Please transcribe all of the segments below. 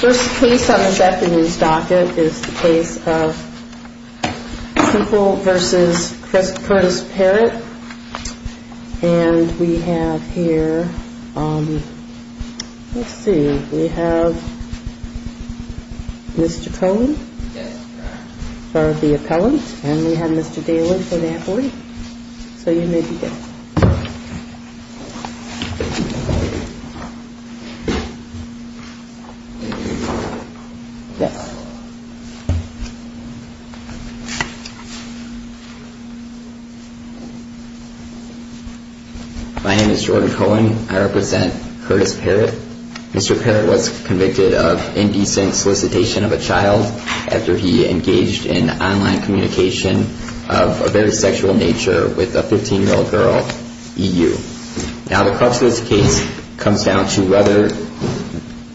First case on this afternoon's docket is the case of Temple v. Curtis Parrott and we have here, let's see, we have Mr. Cohen for the My name is Jordan Cohen. I represent Curtis Parrott. Mr. Parrott was convicted of indecent solicitation of a child after he engaged in online communication of a very sexual nature with a 15-year-old girl, E.U. Now the crux of this case comes down to whether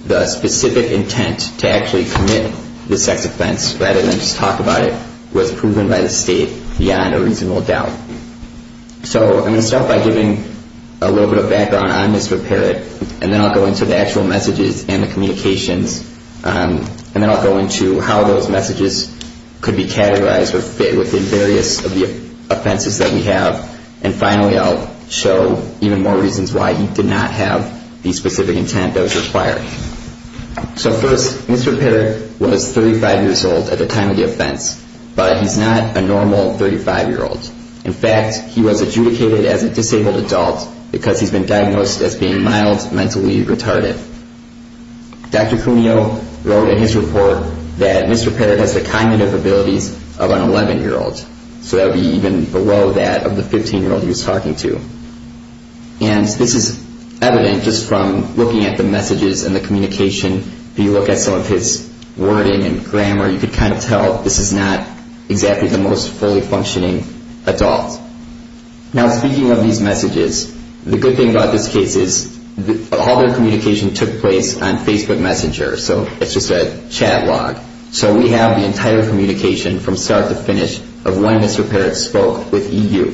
the specific intent to actually commit the sex offense rather than just talk about it was proven by the state beyond a reasonable doubt. So I'm going to start by giving a little bit of background on Mr. Parrott and then I'll go into the actual messages and the communications and then I'll go into how those messages could be categorized or fit within various of the offenses that we have and finally I'll show even more reasons why he did not have the specific intent that was required. So first, Mr. Parrott was 35 years old at the time of the offense, but he's not a normal 35-year-old. In fact, he was adjudicated as a disabled adult because he's been diagnosed as being mild mentally retarded. Dr. Cuneo wrote in his report that Mr. Parrott has the cognitive abilities of an 11-year-old, so that would be even below that of the 15-year-old he was talking to. And this is evident just from looking at the messages and the communication. If you look at some of his wording and grammar, you can kind of tell this is not exactly the most fully functioning adult. Now speaking of these messages, the good thing about this case is all their communication took place on Facebook Messenger, so it's just a chat log. So we have the entire communication from start to finish of when Mr. Parrott spoke with EU.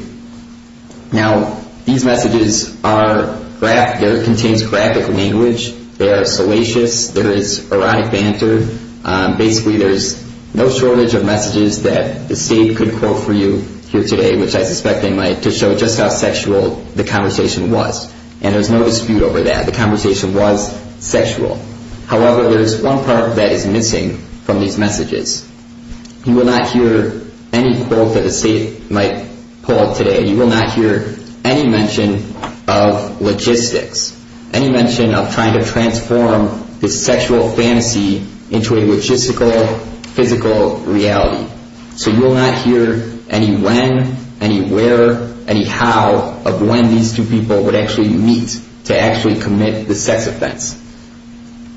Now, these messages are graphic. They contain graphic language. They are salacious. There is erotic banter. Basically, there's no shortage of messages that the state could quote for you here today, which I suspect they might, to show just how sexual the conversation was. And there's no dispute over that. The conversation was sexual. However, there is one part that is missing from these messages. You will not hear any quote that the state might pull up today. You will not hear any mention of logistics, any mention of trying to transform this sexual fantasy into a logistical, physical reality. So you will not hear any when, any where, any how of when these two people would actually meet to actually commit the sex offense.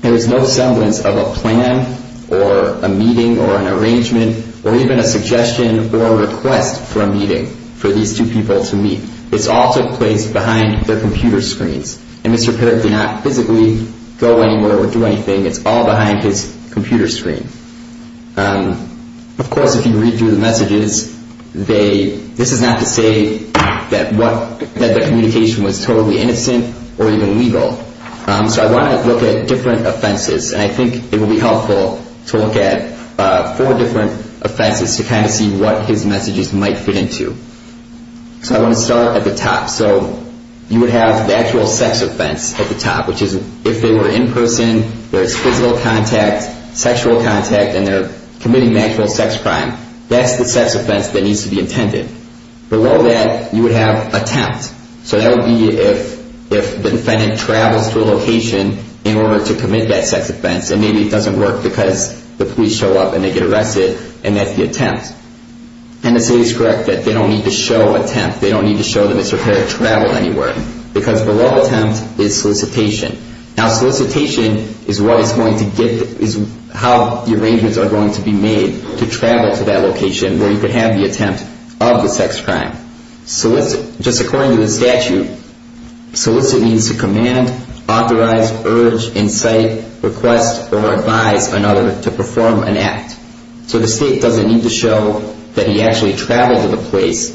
There is no semblance of a plan or a meeting or an arrangement or even a suggestion or a request for a meeting for these two people to meet. It's all took place behind their computer screens. And Mr. Parrott did not physically go anywhere or do anything. It's all behind his computer screen. Of course, if you read through the messages, this is not to say that the communication was totally innocent or even legal. So I want to look at different offenses. And I think it would be helpful to look at four different offenses to kind of see what his messages might fit into. So I want to start at the top. So you would have the actual sex offense at the top, which is if they were in person, there's physical contact, sexual contact, and they're committing an actual sex crime. That's the sex offense that needs to be attended. Below that, you would have attempt. So that would be if the defendant travels to a location in order to commit that sex offense, and maybe it doesn't work because the police show up and they get arrested, and that's the attempt. And the city is correct that they don't need to show attempt. They don't need to show that Mr. Parrott traveled anywhere because below attempt is solicitation. Now, solicitation is how the arrangements are going to be made to travel to that location where you could have the attempt of the sex crime. Just according to the statute, solicit means to command, authorize, urge, incite, request, or advise another to perform an act. So the state doesn't need to show that he actually traveled to the place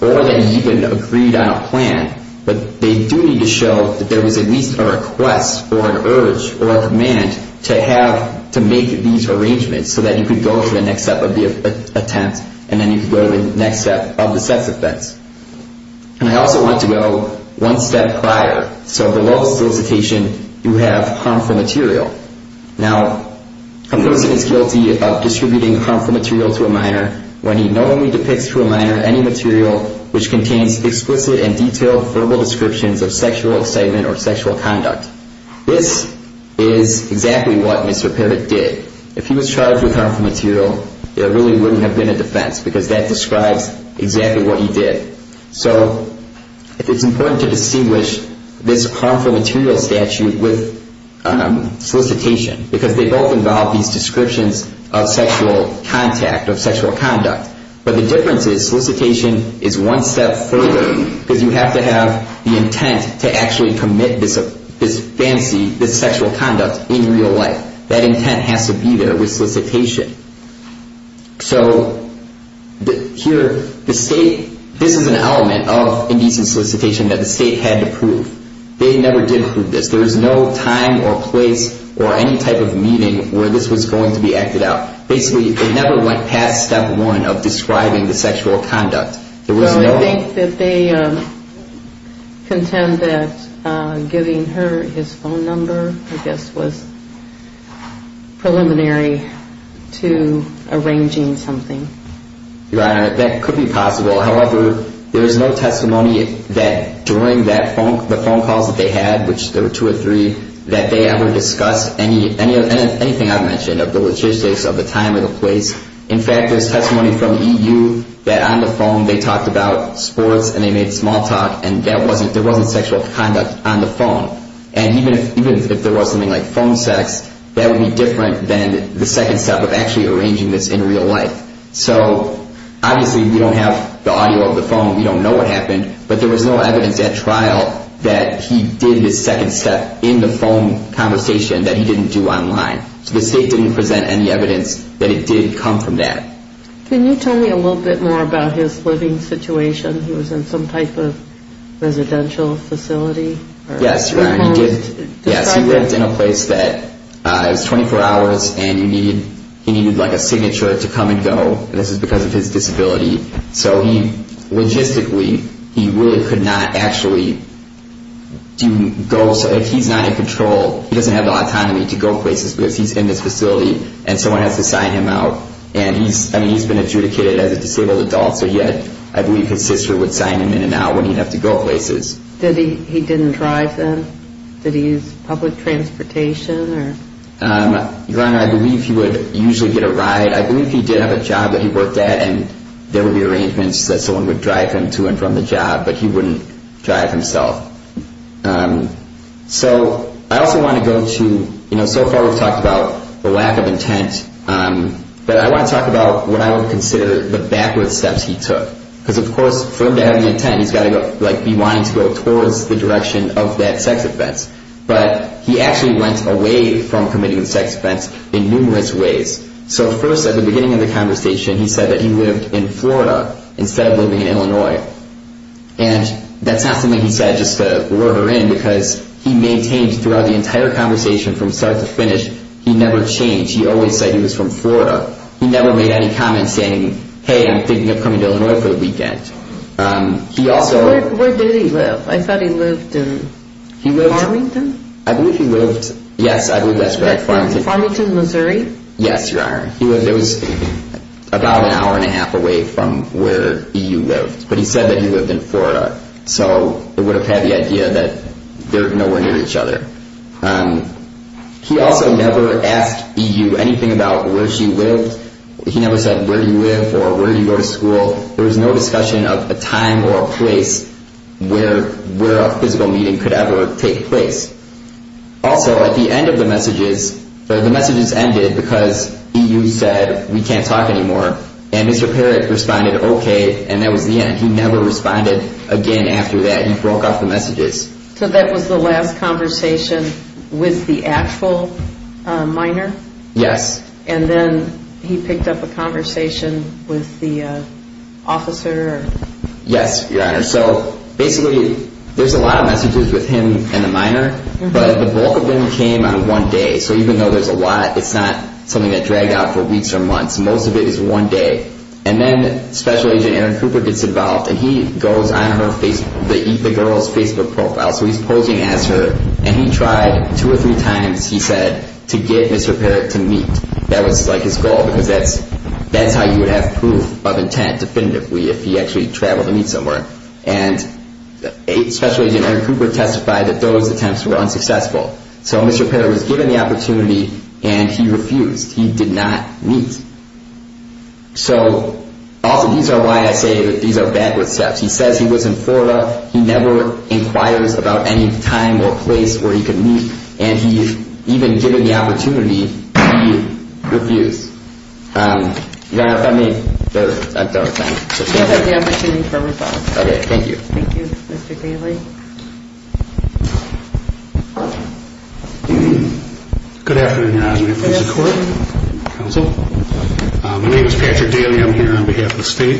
or that he even agreed on a plan, but they do need to show that there was at least a request or an urge or a command to make these arrangements so that you could go to the next step of the attempt, and then you could go to the next step of the sex offense. And I also want to go one step prior. So below solicitation, you have harmful material. Now, a person is guilty of distributing harmful material to a minor when he not only depicts to a minor any material which contains explicit and detailed verbal descriptions of sexual incitement or sexual conduct. This is exactly what Mr. Parrott did. If he was charged with harmful material, there really wouldn't have been a defense because that describes exactly what he did. So it's important to distinguish this harmful material statute with solicitation because they both involve these descriptions of sexual contact or sexual conduct. But the difference is solicitation is one step further because you have to have the intent to actually commit this fancy, this sexual conduct in real life. That intent has to be there with solicitation. So here, the state, this is an element of indecent solicitation that the state had to prove. They never did prove this. There is no time or place or any type of meeting where this was going to be acted out. Basically, it never went past step one of describing the sexual conduct. Well, I think that they contend that giving her his phone number, I guess, was preliminary to arranging something. Your Honor, that could be possible. However, there is no testimony that during the phone calls that they had, which there were two or three, that they ever discussed anything I've mentioned of the logistics, of the time or the place. In fact, there's testimony from EU that on the phone they talked about sports and they made small talk and there wasn't sexual conduct on the phone. And even if there was something like phone sex, that would be different than the second step of actually arranging this in real life. So obviously, we don't have the audio of the phone. We don't know what happened. But there was no evidence at trial that he did his second step in the phone conversation that he didn't do online. So the state didn't present any evidence that it did come from that. Can you tell me a little bit more about his living situation? He was in some type of residential facility? Yes, Your Honor. He lived in a place that was 24 hours and he needed a signature to come and go. This is because of his disability. So logistically, he really could not actually go. If he's not in control, he doesn't have the autonomy to go places because he's in this facility and someone has to sign him out. And he's been adjudicated as a disabled adult. So I believe his sister would sign him in and out when he'd have to go places. He didn't drive then? Did he use public transportation? Your Honor, I believe he would usually get a ride. I believe he did have a job that he worked at and there would be arrangements that someone would drive him to and from the job, but he wouldn't drive himself. So I also want to go to, so far we've talked about the lack of intent, but I want to talk about what I would consider the backwards steps he took. Because of course, for him to have any intent, he's got to be wanting to go towards the direction of that sex offense. But he actually went away from committing the sex offense in numerous ways. So first, at the beginning of the conversation, he said that he lived in Florida instead of living in Illinois. And that's not something he said just to lure her in because he maintained throughout the entire conversation from start to finish, he never changed. He always said he was from Florida. He never made any comments saying, hey, I'm thinking of coming to Illinois for the weekend. Where did he live? I thought he lived in Farmington? I believe he lived, yes, I believe that's correct, Farmington. Farmington, Missouri? Yes, Your Honor. He lived, it was about an hour and a half away from where E.U. lived. But he said that he lived in Florida. So it would have had the idea that they're nowhere near each other. He also never asked E.U. anything about where she lived. He never said where do you live or where do you go to school. There was no discussion of a time or a place where a physical meeting could ever take place. Also, at the end of the messages, the messages ended because E.U. said we can't talk anymore. And Mr. Parrott responded, okay, and that was the end. He never responded again after that. He broke off the messages. So that was the last conversation with the actual minor? Yes. And then he picked up a conversation with the officer? Yes, Your Honor. So basically, there's a lot of messages with him and the minor, but the bulk of them came on one day. So even though there's a lot, it's not something that dragged out for weeks or months. Most of it is one day. And then Special Agent Aaron Cooper gets involved, and he goes on the Eat the Girls Facebook profile. So he's posing as her, and he tried two or three times, he said, to get Mr. Parrott to meet. That was like his goal because that's how you would have proof of intent definitively if he actually traveled to meet somewhere. And Special Agent Aaron Cooper testified that those attempts were unsuccessful. So Mr. Parrott was given the opportunity, and he refused. He did not meet. So also, these are why I say that these are backward steps. He says he was in Florida. He never inquires about any time or place where he could meet, and he's even given the opportunity, he refused. Your Honor, if I may, I don't think... You have the opportunity for rebuttal. Okay, thank you. Thank you, Mr. Daly. Good afternoon, Your Honor. My name is Patrick Daly. I'm here on behalf of the state.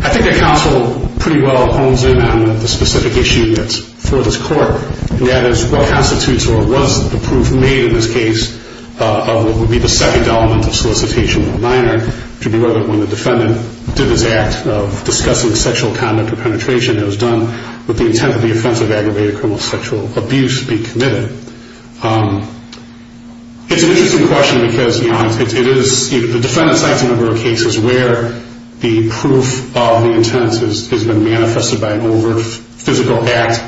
I think the counsel pretty well hones in on the specific issue that's for this court, and that is what constitutes or was the proof made in this case of what would be the second element of solicitation of a minor, which would be whether or not the defendant did this act of discussing sexual conduct or penetration that was done with the intent of the offense of aggravated criminal sexual abuse being committed. It's an interesting question because, Your Honor, it is... The defendant cites a number of cases where the proof of the intent has been manifested by an over-physical act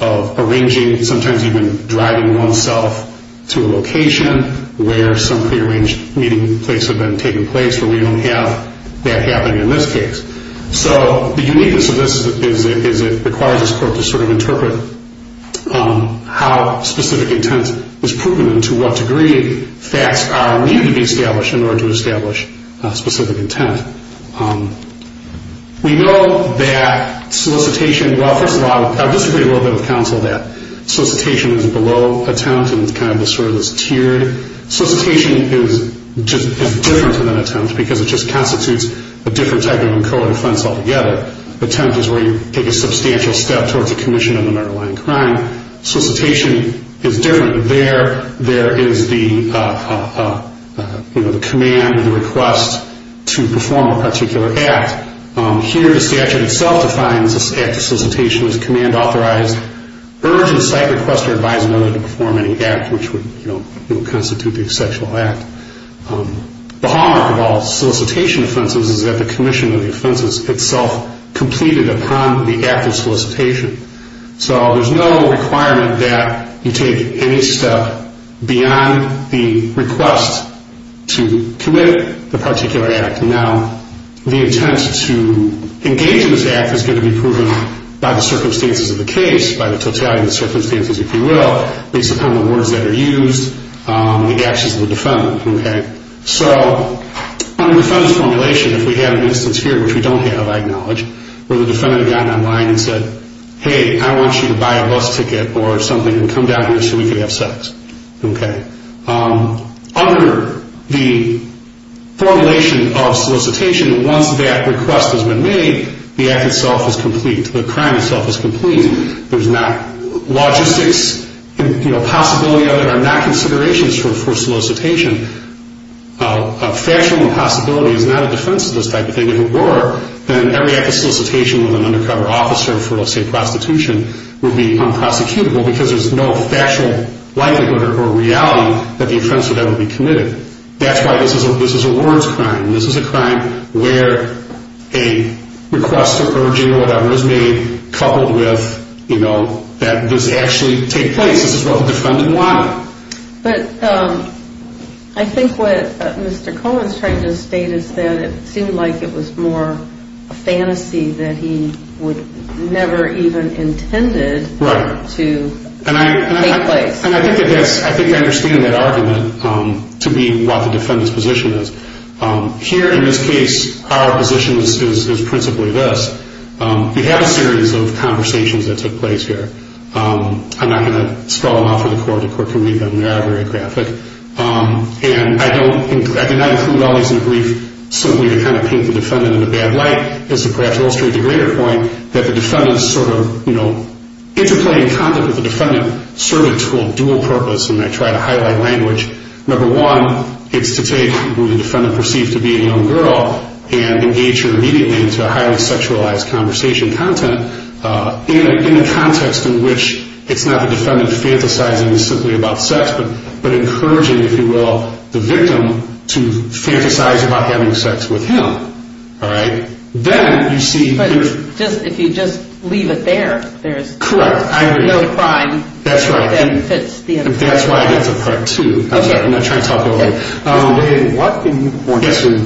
of arranging, sometimes even driving oneself to a location where some prearranged meeting place had been taking place, where we don't have that happening in this case. So the uniqueness of this is it requires this court to sort of interpret how specific intent is proven and to what degree facts are needed to be established in order to establish specific intent. We know that solicitation... Well, first of all, I disagree a little bit with counsel that solicitation is below attempt and is kind of this tiered... Solicitation is different than attempt because it just constitutes a different type of code of defense altogether. Attempt is where you take a substantial step towards a commission on a murder, lying, or crime. Solicitation is different. There is the command and the request to perform a particular act. Here, the statute itself defines this act of solicitation as command, authorized, urgent, cite, request, or advise another to perform any act which would constitute the sexual act. The hallmark of all solicitation offenses is that the commission of the offense is itself completed upon the act of solicitation. So there is no requirement that you take any step beyond the request to commit the particular act. Now, the intent to engage in this act is going to be proven by the circumstances of the case, by the totality of the circumstances, if you will, based upon the words that are used and the actions of the defendant. So on the defendant's formulation, if we had an instance here, which we don't have, I acknowledge, where the defendant had gotten online and said, Hey, I want you to buy a bus ticket or something and come down here so we can have sex. Under the formulation of solicitation, once that request has been made, the act itself is complete. The crime itself is complete. There's not logistics, you know, possibility of it, or not considerations for solicitation. A factual impossibility is not a defense of this type of thing. If it were, then every act of solicitation with an undercover officer for, let's say, prostitution would be unprosecutable because there's no factual likelihood or reality that the offense would ever be committed. That's why this is a warrants crime. This is a crime where a request or urging or whatever is made coupled with, you know, that does actually take place. This is what the defendant wanted. But I think what Mr. Cohen's trying to state is that it seemed like it was more a fantasy that he would never even intended to take place. I think I understand that argument to be what the defendant's position is. Here, in this case, our position is principally this. We have a series of conversations that took place here. I'm not going to scrawl them out for the court. The court can read them. They are very graphic. And I cannot include all these in a brief simply to kind of paint the defendant in a bad light. It's to perhaps illustrate the greater point that the defendant's sort of, you know, interplaying content with the defendant served a dual purpose. And I try to highlight language. Number one, it's to take what the defendant perceived to be a young girl and engage her immediately into a highly sexualized conversation content in a context in which it's not the defendant fantasizing simply about sex but encouraging, if you will, the victim to fantasize about having sex with him. All right? Then you see... But if you just leave it there, there's... Correct. I agree. ...no crime... That's right. ...that fits the... That's why that's a part two. Okay. I'm not trying to talk it over. What can you point to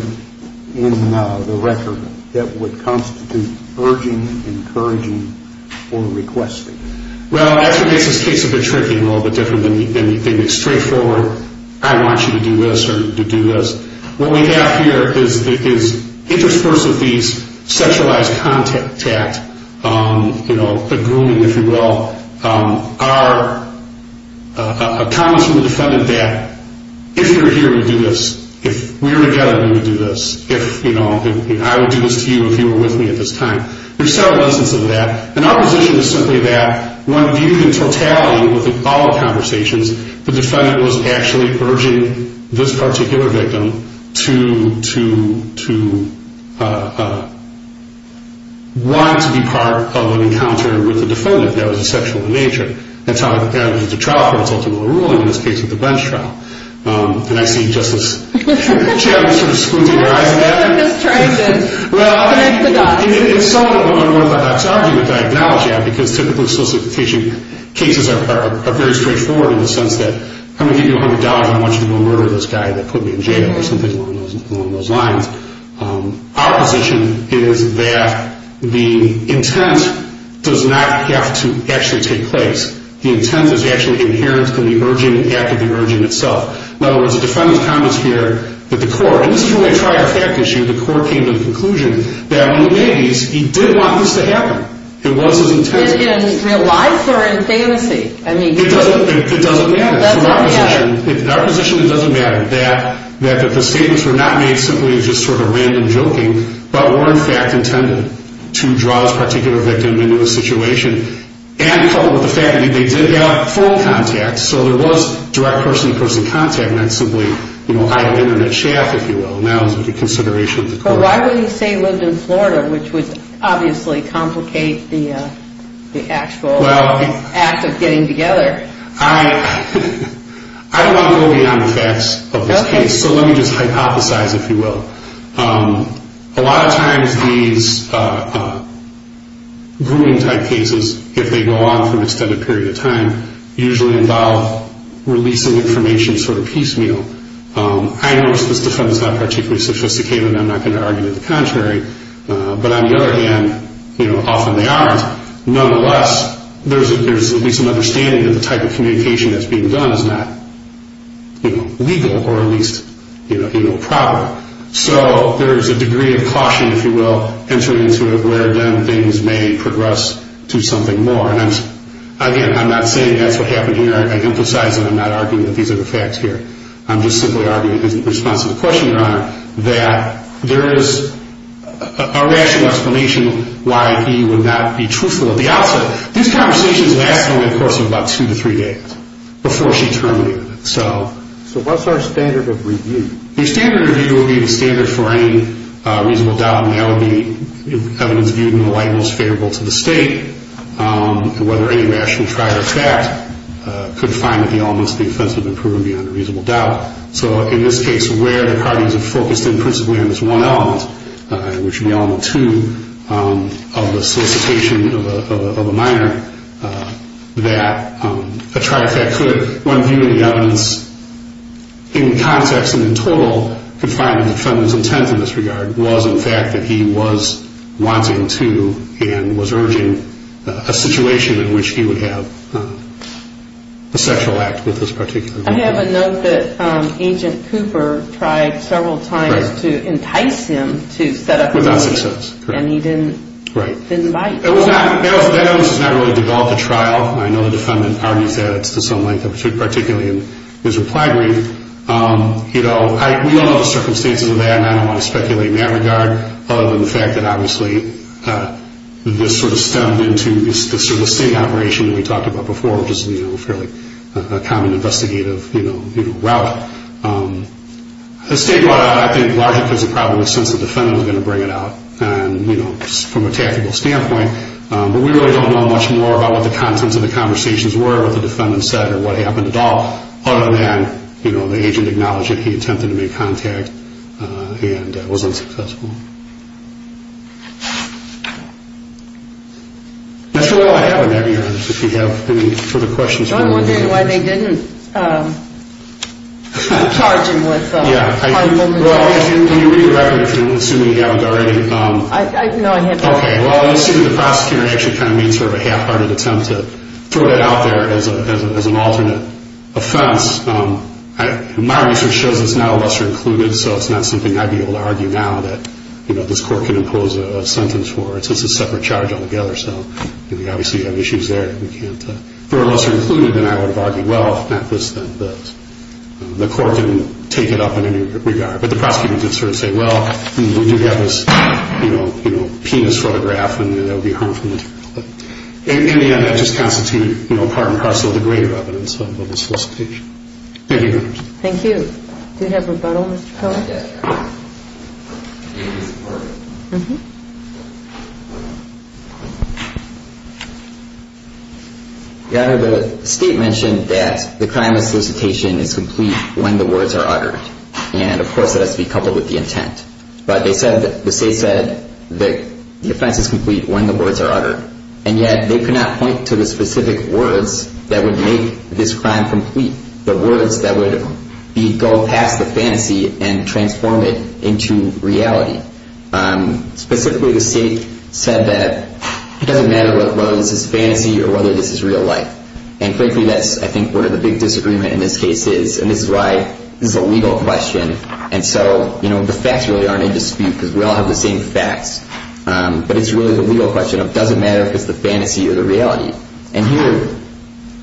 in the record that would constitute urging, encouraging, or requesting? Well, that's what makes this case a bit tricky, a little bit different than you think. It's straightforward. I want you to do this or to do this. What we have here is interspersed with these sexualized contact, you know, a grooming, if you will, are comments from the defendant that if you're here, we'll do this. If we were together, we would do this. If, you know, I would do this to you if you were with me at this time. There's several instances of that. And our position is simply that when viewed in totality with all the conversations, the defendant was actually urging this particular victim to want to be part of an encounter with the defendant that was sexual in nature. That's how the trial court is ultimately ruling in this case with the bench trial. And I see Justice Chaffin sort of squinting her eyes at me. I'm just trying to connect the dots. It's somewhat of an unorthodox argument that I acknowledge that because typically solicitation cases are very straightforward in the sense that I'm going to give you $100 and I want you to go murder this guy that put me in jail or something along those lines. Our position is that the intent does not have to actually take place. The intent is actually inherent to the urging, the act of the urging itself. In other words, the defendant comments here that the court, and this is really a trifecta issue. The court came to the conclusion that when he made these, he did want this to happen. It was his intent. In real life or in fantasy? It doesn't matter. In our position, it doesn't matter. The statements were not made simply as just sort of random joking, but were in fact intended to draw this particular victim into the situation. And coupled with the fact that they did have phone contact, so there was direct person-to-person contact. And that's simply, you know, eye of the internet shaft, if you will, now as a consideration of the court. Well, why would he say he lived in Florida, which would obviously complicate the actual act of getting together? I don't want to go beyond the facts of this case, so let me just hypothesize, if you will. A lot of times these grooming-type cases, if they go on for an extended period of time, usually involve releasing information sort of piecemeal. I notice this defendant is not particularly sophisticated, and I'm not going to argue the contrary. But on the other hand, you know, often they aren't. Nonetheless, there's at least an understanding that the type of communication that's being done is not, you know, legal or at least, you know, proper. So there is a degree of caution, if you will, entering into it, where then things may progress to something more. And again, I'm not saying that's what happened here. I emphasize that I'm not arguing that these are the facts here. I'm just simply arguing in response to the question, Your Honor, that there is a rational explanation why he would not be truthful at the outset. This conversation has been going on for about two to three days before she terminated it. So what's our standard of review? The standard of review would be the standard for any reasonable doubt. And that would be evidence viewed in the light most favorable to the State, and whether any rational trial or fact could find that the elements of the offense have been proven beyond a reasonable doubt. So in this case, where the parties have focused in principally on this one element, which would be element two of the solicitation of a minor, that a trial or fact could, one view of the evidence in context and in total could find that the defendant's intent in this regard was in fact that he was wanting to and was urging a situation in which he would have a sexual act with this particular woman. I have a note that Agent Cooper tried several times to entice him to set up a meeting. Without success. And he didn't bite. That evidence has not really developed a trial. I know the defendant argues that it's to some length, particularly in his reply brief. You know, we all know the circumstances of that, and I don't want to speculate in that regard, other than the fact that obviously this sort of stemmed into this sort of sting operation that we talked about before, which is a fairly common investigative route. The State brought out, I think, largely because of probably the sense the defendant was going to bring it out. And, you know, from a tactical standpoint, but we really don't know much more about what the contents of the conversations were, what the defendant said or what happened at all, other than, you know, the agent acknowledged that he attempted to make contact and was unsuccessful. That's really all I have on that here. If you have any further questions. I'm wondering why they didn't charge him with harmful material. Well, can you read the record, assuming you haven't already? No, I haven't. Okay. Well, I assume the prosecutor actually kind of made sort of a half-hearted attempt to throw that out there as an alternate offense. My research shows it's not a lesser-included, so it's not something I'd be able to argue now that, you know, this court can impose a sentence for. It's just a separate charge altogether. So we obviously have issues there. We can't throw a lesser-included, and I would argue, well, if not this, then the court didn't take it up in any regard. But the prosecutor did sort of say, well, we do have this, you know, penis photograph, and that would be harmful material. In the end, that just constituted part and parcel of the greater evidence of a solicitation. Thank you. Thank you. Do you have rebuttal, Mr. Cohen? Yes, Your Honor. Your Honor, the State mentioned that the crime of solicitation is complete when the words are uttered. And, of course, that has to be coupled with the intent. But the State said that the offense is complete when the words are uttered. And yet they could not point to the specific words that would make this crime complete, the words that would go past the fantasy and transform it into reality. Specifically, the State said that it doesn't matter whether this is fantasy or whether this is real life. And frankly, that's, I think, where the big disagreement in this case is. And this is why this is a legal question. And so, you know, the facts really aren't in dispute because we all have the same facts. But it's really the legal question of does it matter if it's the fantasy or the reality. And here,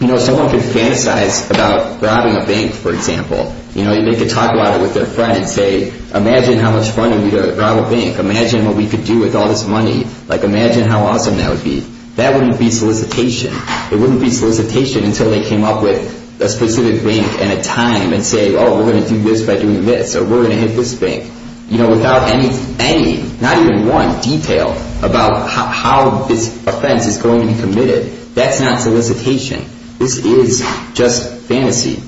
you know, someone could fantasize about robbing a bank, for example. You know, they could talk about it with their friend and say, imagine how much fun it would be to rob a bank. Imagine what we could do with all this money. Like, imagine how awesome that would be. That wouldn't be solicitation. It wouldn't be solicitation until they came up with a specific bank and a time and say, oh, we're going to do this by doing this, or we're going to hit this bank. You know, without any, not even one detail about how this offense is going to be committed, that's not solicitation. This is just fantasy.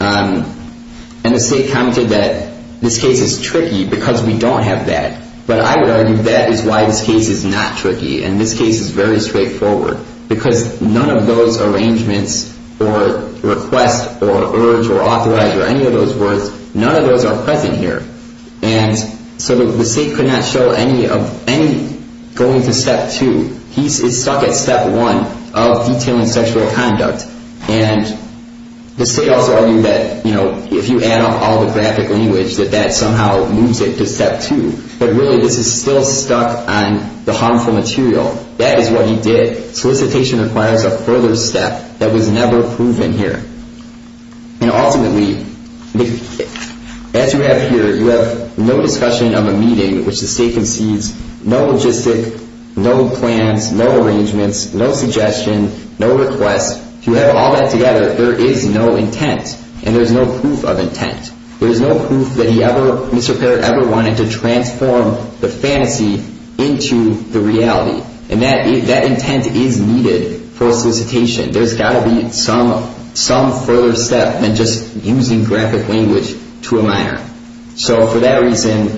And the State commented that this case is tricky because we don't have that. But I would argue that is why this case is not tricky. And this case is very straightforward because none of those arrangements or requests or urge or authorize or any of those words, none of those are present here. And so the State could not show any of any going to step two. He is stuck at step one of detailing sexual conduct. And the State also argued that, you know, if you add up all the graphic language, that that somehow moves it to step two. But really, this is still stuck on the harmful material. That is what he did. Solicitation requires a further step that was never proven here. And ultimately, as you have here, you have no discussion of a meeting, which the State concedes, no logistic, no plans, no arrangements, no suggestion, no request. If you add all that together, there is no intent. And there's no proof of intent. There is no proof that he ever, Mr. Parrott ever wanted to transform the fantasy into the reality. And that intent is needed for solicitation. There's got to be some further step than just using graphic language to a minor. So for that reason,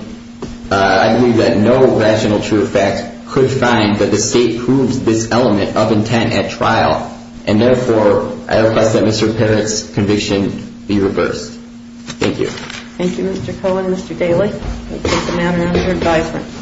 I believe that no rational true effect could find that the State proves this element of intent at trial. And, therefore, I request that Mr. Parrott's conviction be reversed. Thank you. Thank you, Mr. Cohen. Mr. Daley, this is a matter under advisement.